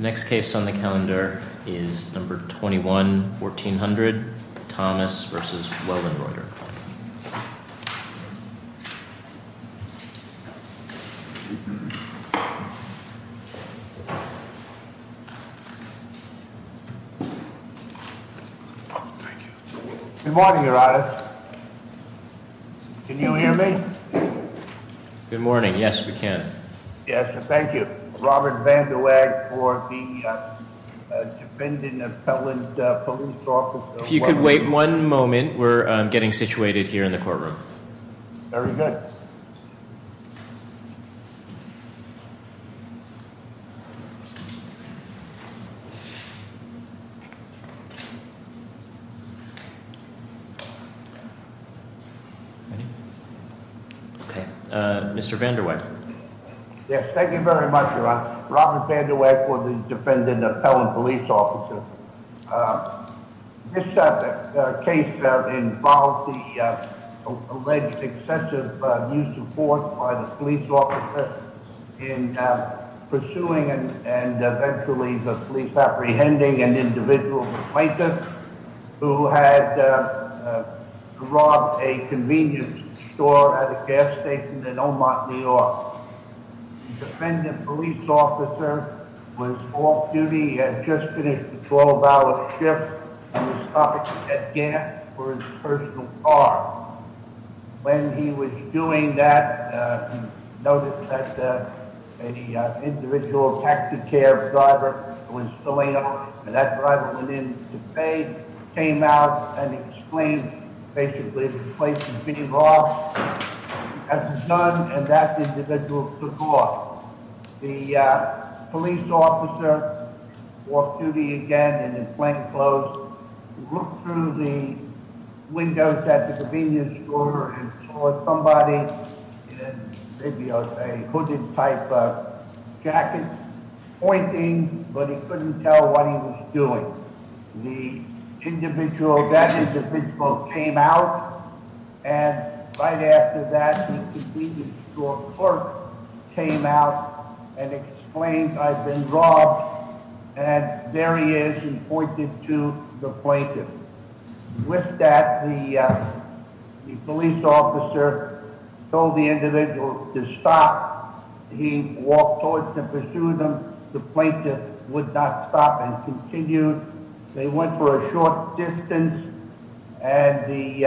The next case on the calendar is number 21-1400, Thomas v. Weldenreuter. Good morning, Your Honor. Can you hear me? Good morning. Yes, we can. Yes, thank you. Robert Vanderweg for the Defendant Appellant Police Office. If you could wait one moment, we're getting situated here in the courtroom. Very good. Mr. Vanderweg. Yes, thank you very much, Your Honor. Robert Vanderweg for the Defendant Appellant Police Officer. This case involved the alleged excessive use of force by the police officer in pursuing and eventually the police apprehending an individual, a plaintiff, who had robbed a convenience store at a gas station in Omont, New York. The defendant police officer was off-duty, had just finished a 12-hour shift, and was stopping at a gas station for his personal car. When he was doing that, he noticed that an individual taxicab driver was filling up, and that driver went in to pay, came out, and exclaimed, basically, the place is being robbed. He hadn't done, and that individual took off. The police officer was off-duty again in his plain clothes, looked through the windows at the convenience store, and saw somebody in maybe a hooded type of jacket, pointing, but he couldn't tell what he was doing. The individual, that individual, came out, and right after that, the convenience store clerk came out and explained, I've been robbed, and there he is, and pointed to the plaintiff. With that, the police officer told the individual to stop. He walked towards them, pursued them. The plaintiff would not stop and continued. They went for a short distance, and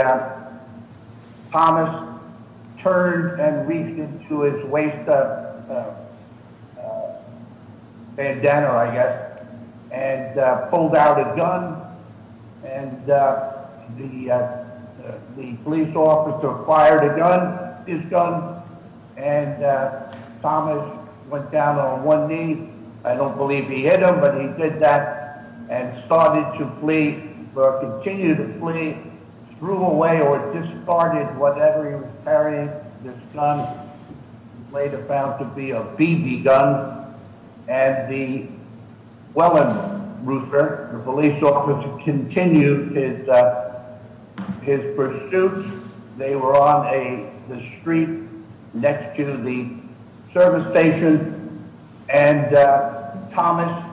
Thomas turned and reached into his waist bandana, I guess, and pulled out a gun, and the police officer fired his gun, and Thomas went down on one knee. I don't believe he hit him, but he did that, and started to flee, or continued to flee, threw away or discarded whatever he was carrying, this gun, later found to be a BB gun. The police officer continued his pursuit. They were on the street next to the service station, and Thomas,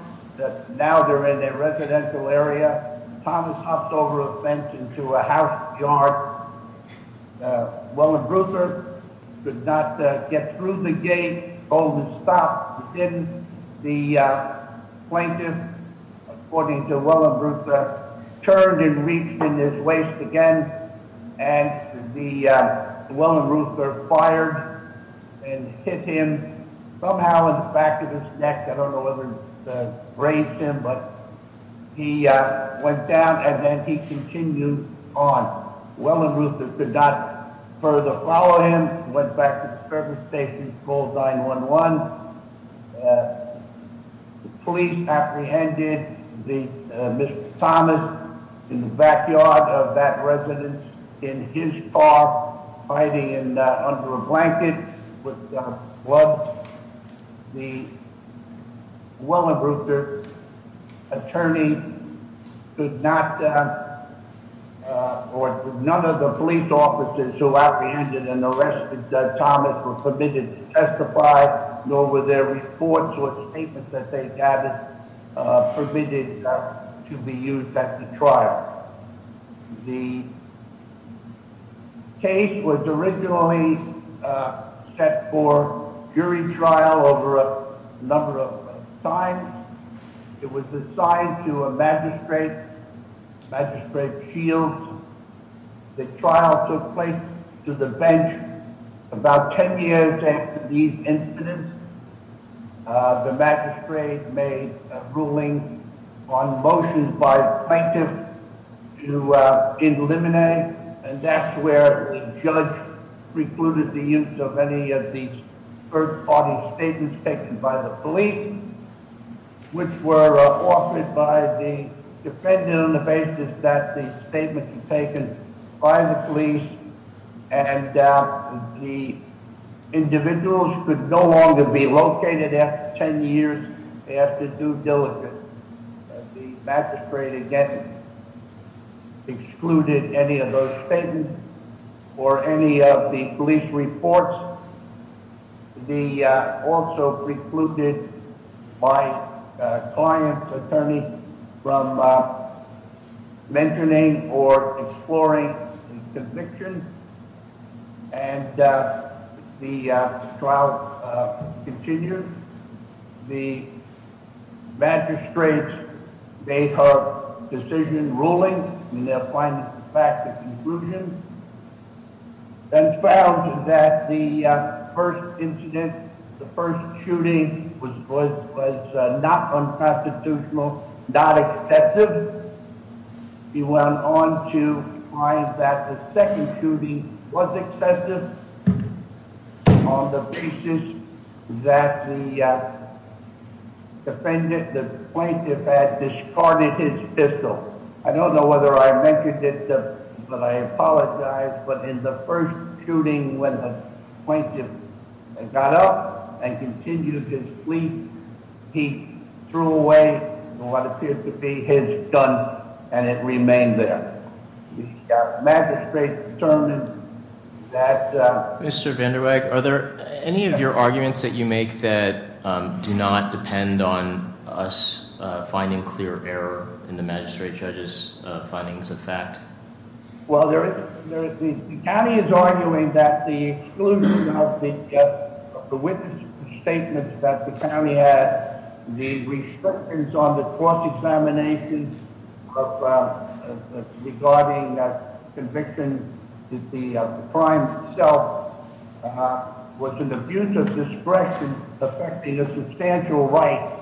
now they're in a residential area, Thomas hopped over a fence into a house yard. Wellenreuther could not get through the gate, told him to stop. He didn't. The plaintiff, according to Wellenreuther, turned and reached into his waist again, and Wellenreuther fired and hit him somehow in the back of his neck. I don't know whether it raised him, but he went down, and then he continued on. Wellenreuther could not further follow him, went back to the service station, called 911. The police apprehended Mr. Thomas in the backyard of that residence, in his car, hiding under a blanket with gloves. The Wellenreuther attorney could not, or none of the police officers who apprehended and arrested Thomas were permitted to testify, nor were their reports or statements that they had permitted to be used at the trial. The case was originally set for jury trial over a number of times. It was assigned to a magistrate, Magistrate Shields. The trial took place to the bench about 10 years after these incidents. The magistrate made a ruling on motions by plaintiffs to eliminate, and that's where the judge precluded the use of any of these third-party statements taken by the police, which were offered by the defendant on the basis that the statements were taken by the police, and the individuals could no longer be located after 10 years after due diligence. The magistrate, again, excluded any of those statements or any of the police reports. They also precluded my client's attorney from mentioning or exploring the conviction, and the trial continued. The magistrate made her decision ruling in their findings of fact and conclusion, and found that the first incident, the first shooting, was not unconstitutional, not excessive. He went on to find that the second shooting was excessive on the basis that the defendant, the plaintiff, had discarded his pistol. I don't know whether I mentioned it, but I apologize, but in the first shooting, when the plaintiff got up and continued his plea, he threw away what appeared to be his gun, and it remained there. The magistrate determined that... Mr. Vanderweg, are there any of your arguments that you make that do not depend on us finding clear error in the magistrate judge's findings of fact? Well, the county is arguing that the exclusion of the witness statements that the county had, the restrictions on the cross-examination regarding conviction, the crime itself, was an abuse of discretion affecting a substantial right,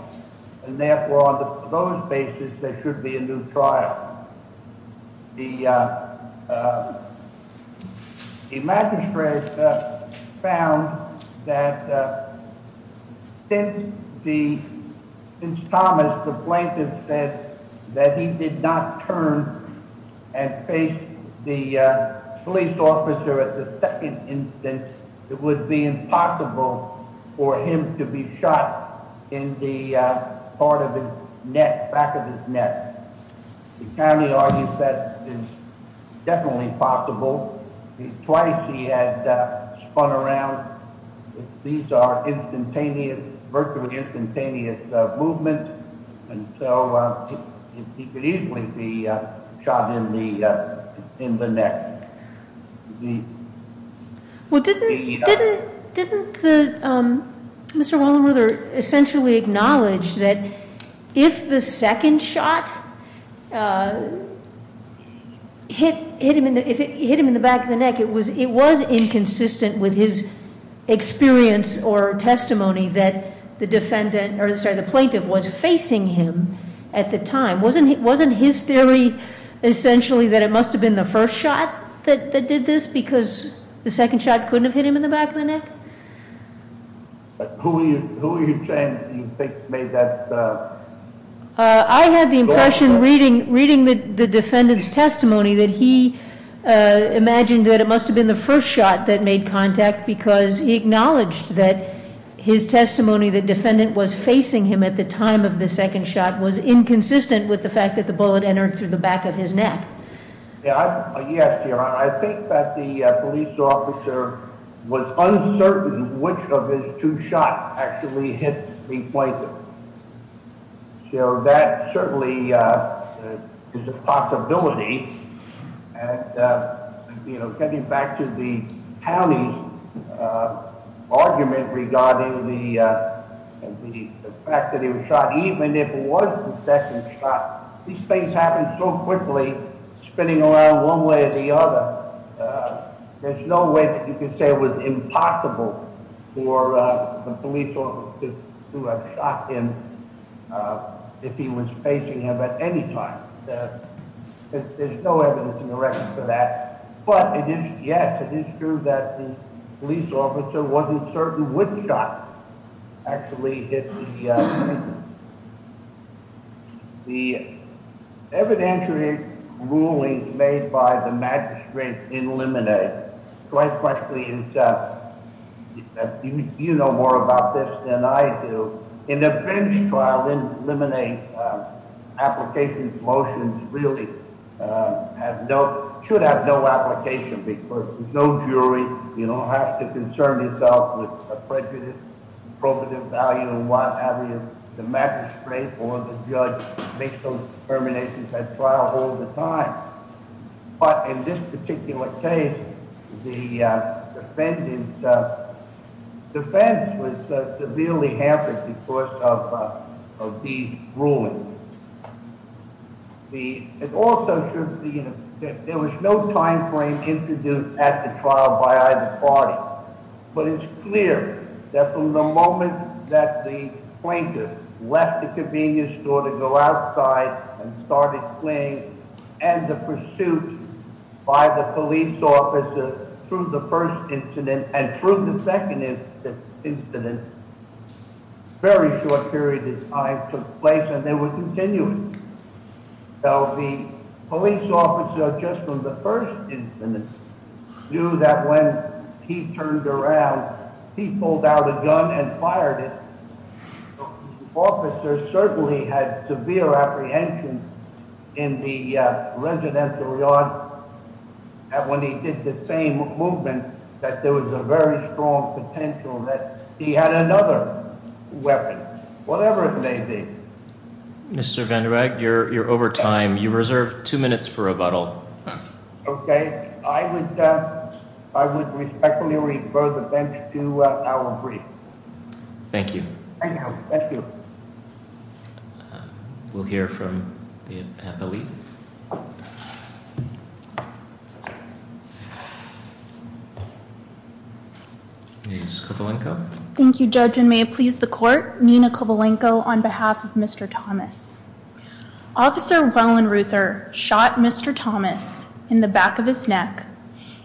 and therefore, on those basis, there should be a new trial. The magistrate found that since Thomas, the plaintiff, said that he did not turn and face the police officer at the second instance, it would be impossible for him to be shot in the back of his neck. The county argues that it's definitely possible. Twice he had spun around. These are instantaneous, virtually instantaneous movements, and so he could easily be shot in the neck. Well, didn't Mr. Wallenruther essentially acknowledge that if the second shot hit him in the back of the neck, it was inconsistent with his experience or testimony that the plaintiff was facing him at the time? Wasn't his theory essentially that it must have been the first shot that did this because the second shot couldn't have hit him in the back of the neck? Who are you saying you think made that? I had the impression reading the defendant's testimony that he imagined that it must have been the first shot that made contact because he acknowledged that his testimony that the defendant was facing him at the time of the second shot was inconsistent with the fact that the bullet entered through the back of his neck. Yes, your honor, I think that the police officer was uncertain which of his two shots actually hit the plaintiff. So that certainly is a possibility. Getting back to the county's argument regarding the fact that he was shot, even if it was the second shot, these things happen so quickly, spinning around one way or the other. There's no way that you could say it was impossible for the police officer to have shot him if he was facing him at any time. There's no evidence in the record for that. But it is true that the police officer wasn't certain which shot actually hit the plaintiff. The evidentiary ruling made by the magistrate in Lemonade, quite frankly, you know more about this than I do. In the French trial in Lemonade, application motions really should have no application because there's no jury. You don't have to concern yourself with prejudice, probative value and what have you. The magistrate or the judge makes those determinations at trial all the time. But in this particular case, the defendant's defense was severely hampered because of these rulings. There was no time frame introduced at the trial by either party. But it's clear that from the moment that the plaintiff left the convenience store to go outside and started fleeing and the pursuit by the police officer through the first incident and through the second incident, a very short period of time took place and they were continuing. The police officer, just from the first incident, knew that when he turned around, he pulled out a gun and fired it. The officer certainly had severe apprehension in the residential yard that when he did the same movement that there was a very strong potential that he had another weapon, whatever it may be. Mr. Vanderegg, you're over time. You reserve two minutes for rebuttal. Okay. I would respectfully refer the bench to our brief. Thank you. Thank you. We'll hear from the appellee. Ms. Kovalenko. Thank you, Judge, and may it please the court, Nina Kovalenko on behalf of Mr. Thomas. Officer Wellenreuther shot Mr. Thomas in the back of his neck,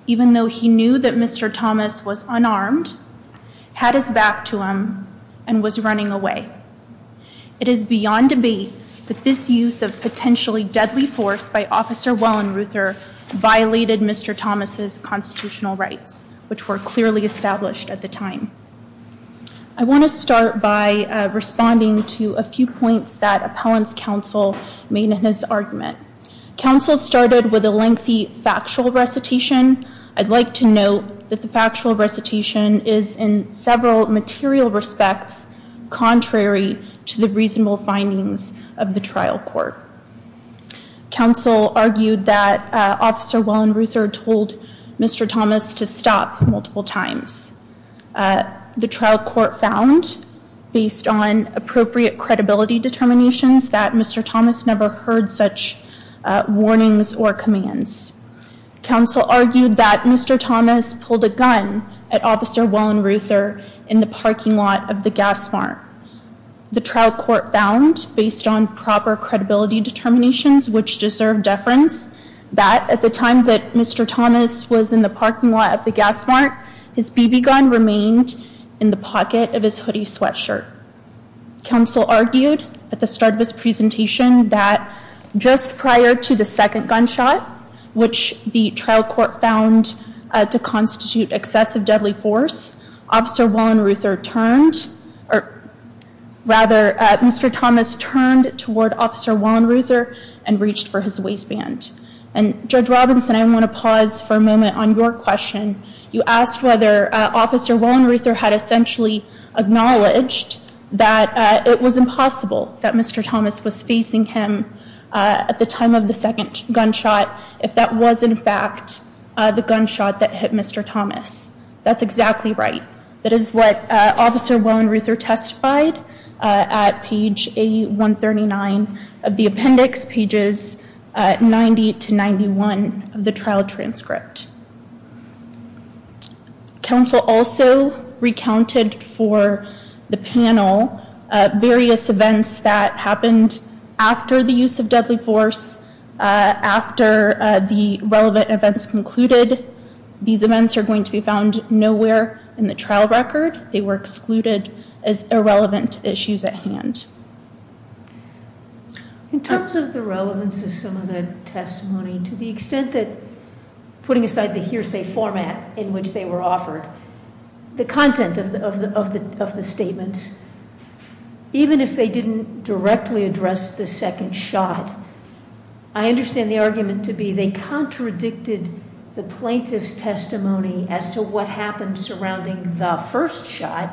even though he knew that Mr. Thomas was unarmed, had his back to him, and was running away. It is beyond debate that this use of potentially deadly force by Officer Wellenreuther violated Mr. Thomas' constitutional rights, which were clearly established at the time. I want to start by responding to a few points that appellant's counsel made in his argument. Counsel started with a lengthy factual recitation. I'd like to note that the factual recitation is in several material respects contrary to the reasonable findings of the trial court. Counsel argued that Officer Wellenreuther told Mr. Thomas to stop multiple times. The trial court found, based on appropriate credibility determinations, that Mr. Thomas never heard such warnings or commands. Counsel argued that Mr. Thomas pulled a gun at Officer Wellenreuther in the parking lot of the gas mart. The trial court found, based on proper credibility determinations which deserve deference, that at the time that Mr. Thomas was in the parking lot of the gas mart, his BB gun remained in the pocket of his hoodie sweatshirt. Counsel argued at the start of this presentation that just prior to the second gunshot, which the trial court found to constitute excessive deadly force, Officer Wellenreuther turned, or rather Mr. Thomas turned toward Officer Wellenreuther and reached for his waistband. And Judge Robinson, I want to pause for a moment on your question. You asked whether Officer Wellenreuther had essentially acknowledged that it was impossible that Mr. Thomas was facing him at the time of the second gunshot, if that was in fact the gunshot that hit Mr. Thomas. That's exactly right. That is what Officer Wellenreuther testified at page 139 of the appendix, pages 90 to 91 of the trial transcript. Counsel also recounted for the panel various events that happened after the use of deadly force, after the relevant events concluded. These events are going to be found nowhere in the trial record. They were excluded as irrelevant issues at hand. In terms of the relevance of some of the testimony, to the extent that putting aside the hearsay format in which they were offered, the content of the statements, even if they didn't directly address the second shot, I understand the argument to be they contradicted the plaintiff's testimony as to what happened surrounding the first shot,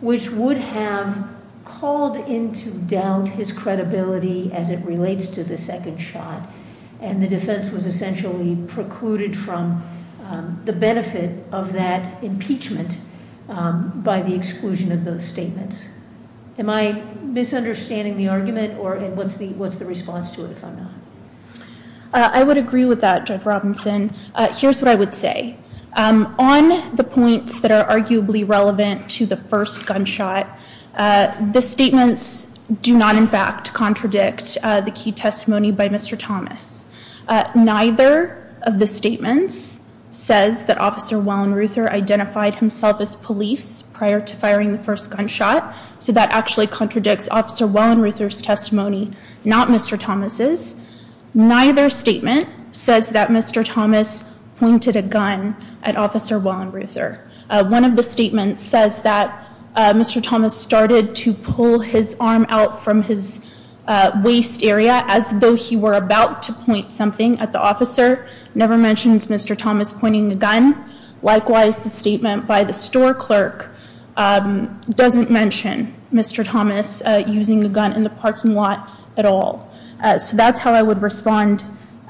which would have called into doubt his credibility as it relates to the second shot. And the defense was essentially precluded from the benefit of that impeachment by the exclusion of those statements. Am I misunderstanding the argument, and what's the response to it if I'm not? I would agree with that, Judge Robinson. Here's what I would say. On the points that are arguably relevant to the first gunshot, the statements do not, in fact, contradict the key testimony by Mr. Thomas. Neither of the statements says that Officer Wellenreuther identified himself as police prior to firing the first gunshot, so that actually contradicts Officer Wellenreuther's testimony, not Mr. Thomas's. Neither statement says that Mr. Thomas pointed a gun at Officer Wellenreuther. One of the statements says that Mr. Thomas started to pull his arm out from his waist area as though he were about to point something at the officer. Never mentions Mr. Thomas pointing a gun. Likewise, the statement by the store clerk doesn't mention Mr. Thomas using a gun in the parking lot at all. So that's how I would respond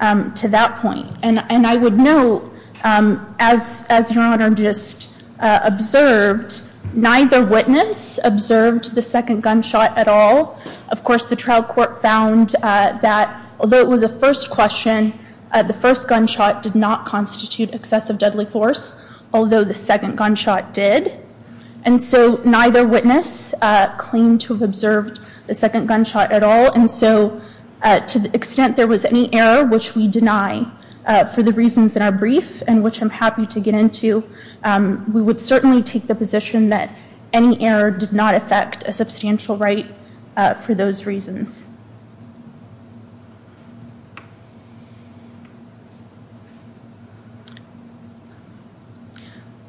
to that point. And I would note, as Your Honor just observed, neither witness observed the second gunshot at all. Of course, the trial court found that although it was a first question, the first gunshot did not constitute excessive deadly force, although the second gunshot did. And so neither witness claimed to have observed the second gunshot at all. And so to the extent there was any error, which we deny for the reasons in our brief and which I'm happy to get into, we would certainly take the position that any error did not affect a substantial right for those reasons.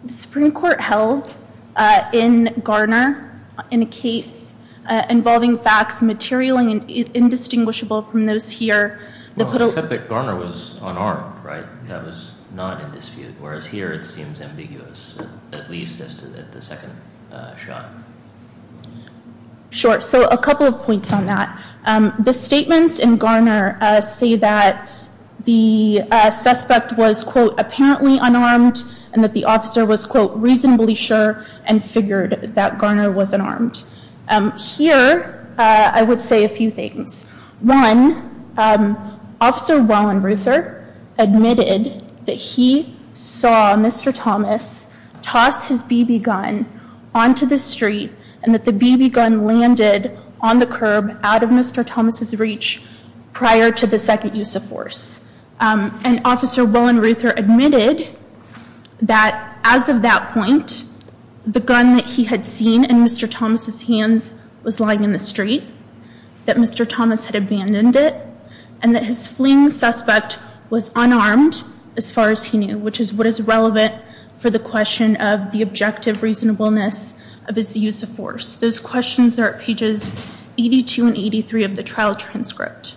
The Supreme Court held in Garner in a case involving facts material and indistinguishable from those here. Well, except that Garner was unarmed, right? That was not in dispute, whereas here it seems ambiguous, at least as to the second shot. Sure. So a couple of points on that. The statements in Garner say that the suspect was, quote, apparently unarmed and that the officer was, quote, reasonably sure and figured that Garner was unarmed. Here, I would say a few things. One, Officer Roland Ruther admitted that he saw Mr. Thomas toss his BB gun onto the street and that the BB gun landed on the curb out of Mr. Thomas' reach prior to the second use of force. And Officer Roland Ruther admitted that as of that point, the gun that he had seen in Mr. Thomas' hands was lying in the street, that Mr. Thomas had abandoned it, and that his fleeing suspect was unarmed as far as he knew, which is what is relevant for the question of the objective reasonableness of his use of force. Those questions are at pages 82 and 83 of the trial transcript.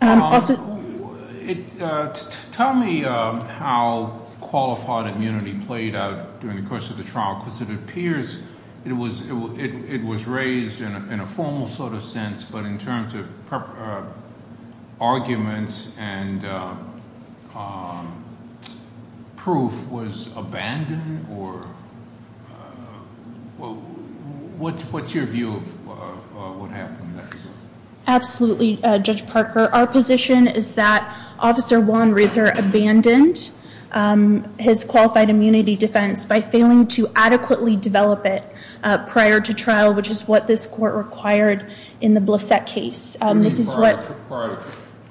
Tell me how qualified immunity played out during the course of the trial, because it appears it was raised in a formal sort of sense, but in terms of arguments and proof, was abandoned or what's your view of what happened in that regard? Absolutely, Judge Parker. Our position is that Officer Juan Ruther abandoned his qualified immunity defense by failing to adequately develop it prior to trial, which is what this court required in the Blissett case. This is what-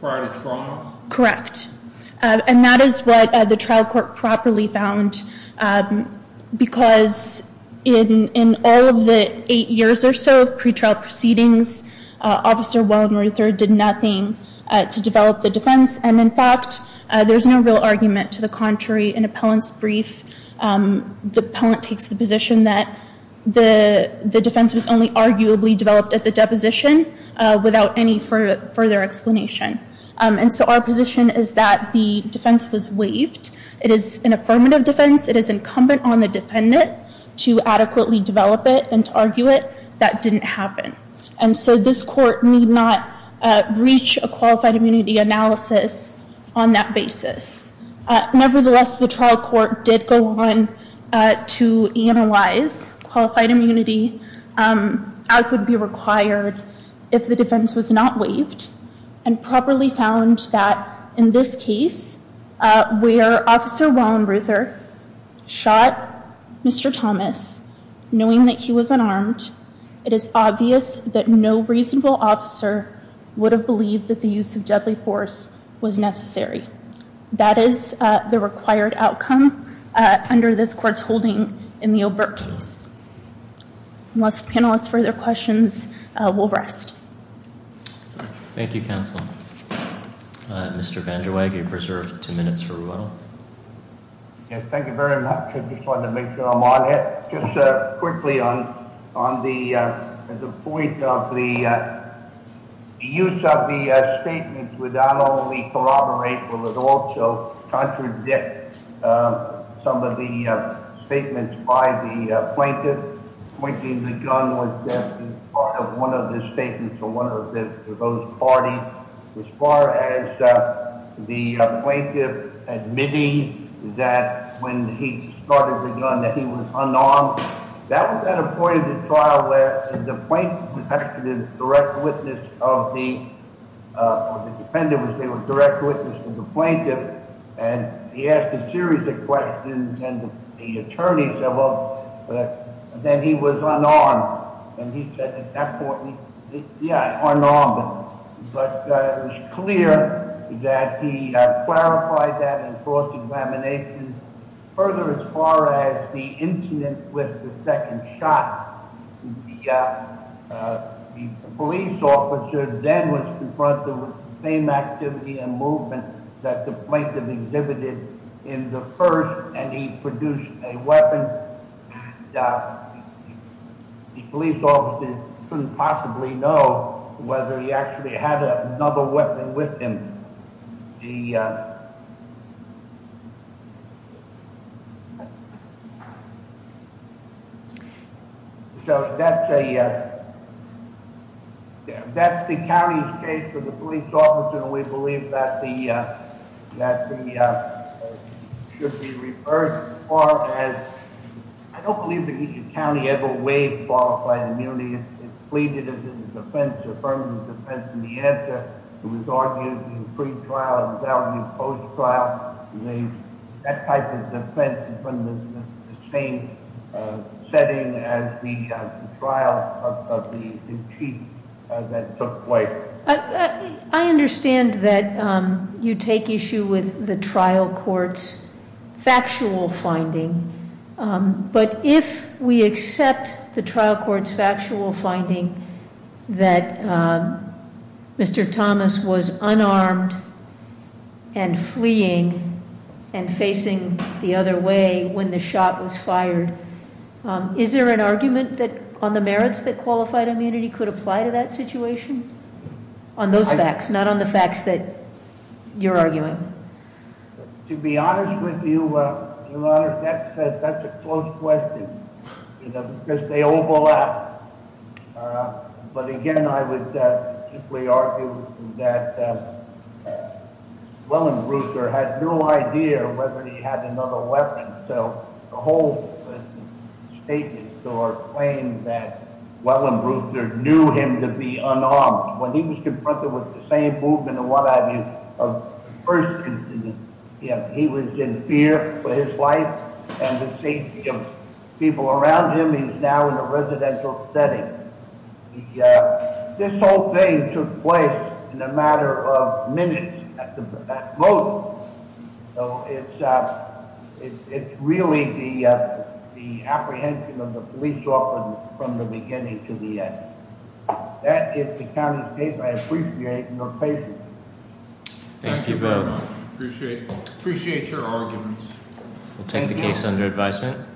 Prior to trial? Correct. And that is what the trial court properly found, because in all of the eight years or so of pretrial proceedings, Officer Juan Ruther did nothing to develop the defense. And, in fact, there's no real argument to the contrary. In Appellant's brief, the appellant takes the position that the defense was only arguably developed at the deposition without any further explanation. And so our position is that the defense was waived. It is an affirmative defense. It is incumbent on the defendant to adequately develop it and to argue it. That didn't happen. And so this court need not reach a qualified immunity analysis on that basis. Nevertheless, the trial court did go on to analyze qualified immunity, as would be required if the defense was not waived, and properly found that in this case, where Officer Juan Ruther shot Mr. Thomas, knowing that he was unarmed, it is obvious that no reasonable officer would have believed that the use of deadly force was necessary. That is the required outcome under this court's holding in the O'Byrke case. Unless the panelists have further questions, we'll rest. Thank you, Counsel. Mr. Van Der Weide, you're preserved two minutes for rebuttal. Thank you very much. I just wanted to make sure I'm on it. Just quickly on the point of the use of the statements would not only corroborate, but would also contradict some of the statements by the plaintiff. Pointing the gun was part of one of the statements of one of those parties. As far as the plaintiff admitting that when he started the gun that he was unarmed, that was at a point in the trial where the plaintiff was asked to direct witness of the defendant, which they would direct witness to the plaintiff, and he asked a series of questions, and the attorney said, well, then he was unarmed. And he said at that point, yeah, unarmed. But it was clear that he clarified that in court's examination. Further, as far as the incident with the second shot, the police officer then was confronted with the same activity and movement that the plaintiff exhibited in the first, and he produced a weapon. The police officer couldn't possibly know whether he actually had another weapon with him. So that's the county's case for the police officer, and we believe that should be reversed. As far as, I don't believe that each county ever waived qualified immunity. It's pleaded as a defense, affirmed as a defense, and the answer was argued in the pre-trial and was argued in the post-trial. That type of defense is from the same setting as the trial of the chief that took place. I understand that you take issue with the trial court's factual finding, but if we accept the trial court's factual finding that Mr. Thomas was unarmed and fleeing and facing the other way when the shot was fired, is there an argument on the merits that qualified immunity could apply to that situation? On those facts, not on the facts that you're arguing. To be honest with you, that's a close question because they overlap. But again, I would simply argue that Wellenbrecher had no idea whether he had another weapon. The whole statement or claim that Wellenbrecher knew him to be unarmed, when he was confronted with the same movement of what I mean, of the first incident, he was in fear for his life and the safety of people around him. He's now in a residential setting. This whole thing took place in a matter of minutes at most. So it's really the apprehension of the police officers from the beginning to the end. That is the county's case. I appreciate your patience. Thank you both. Appreciate your arguments. We'll take the case under advisement.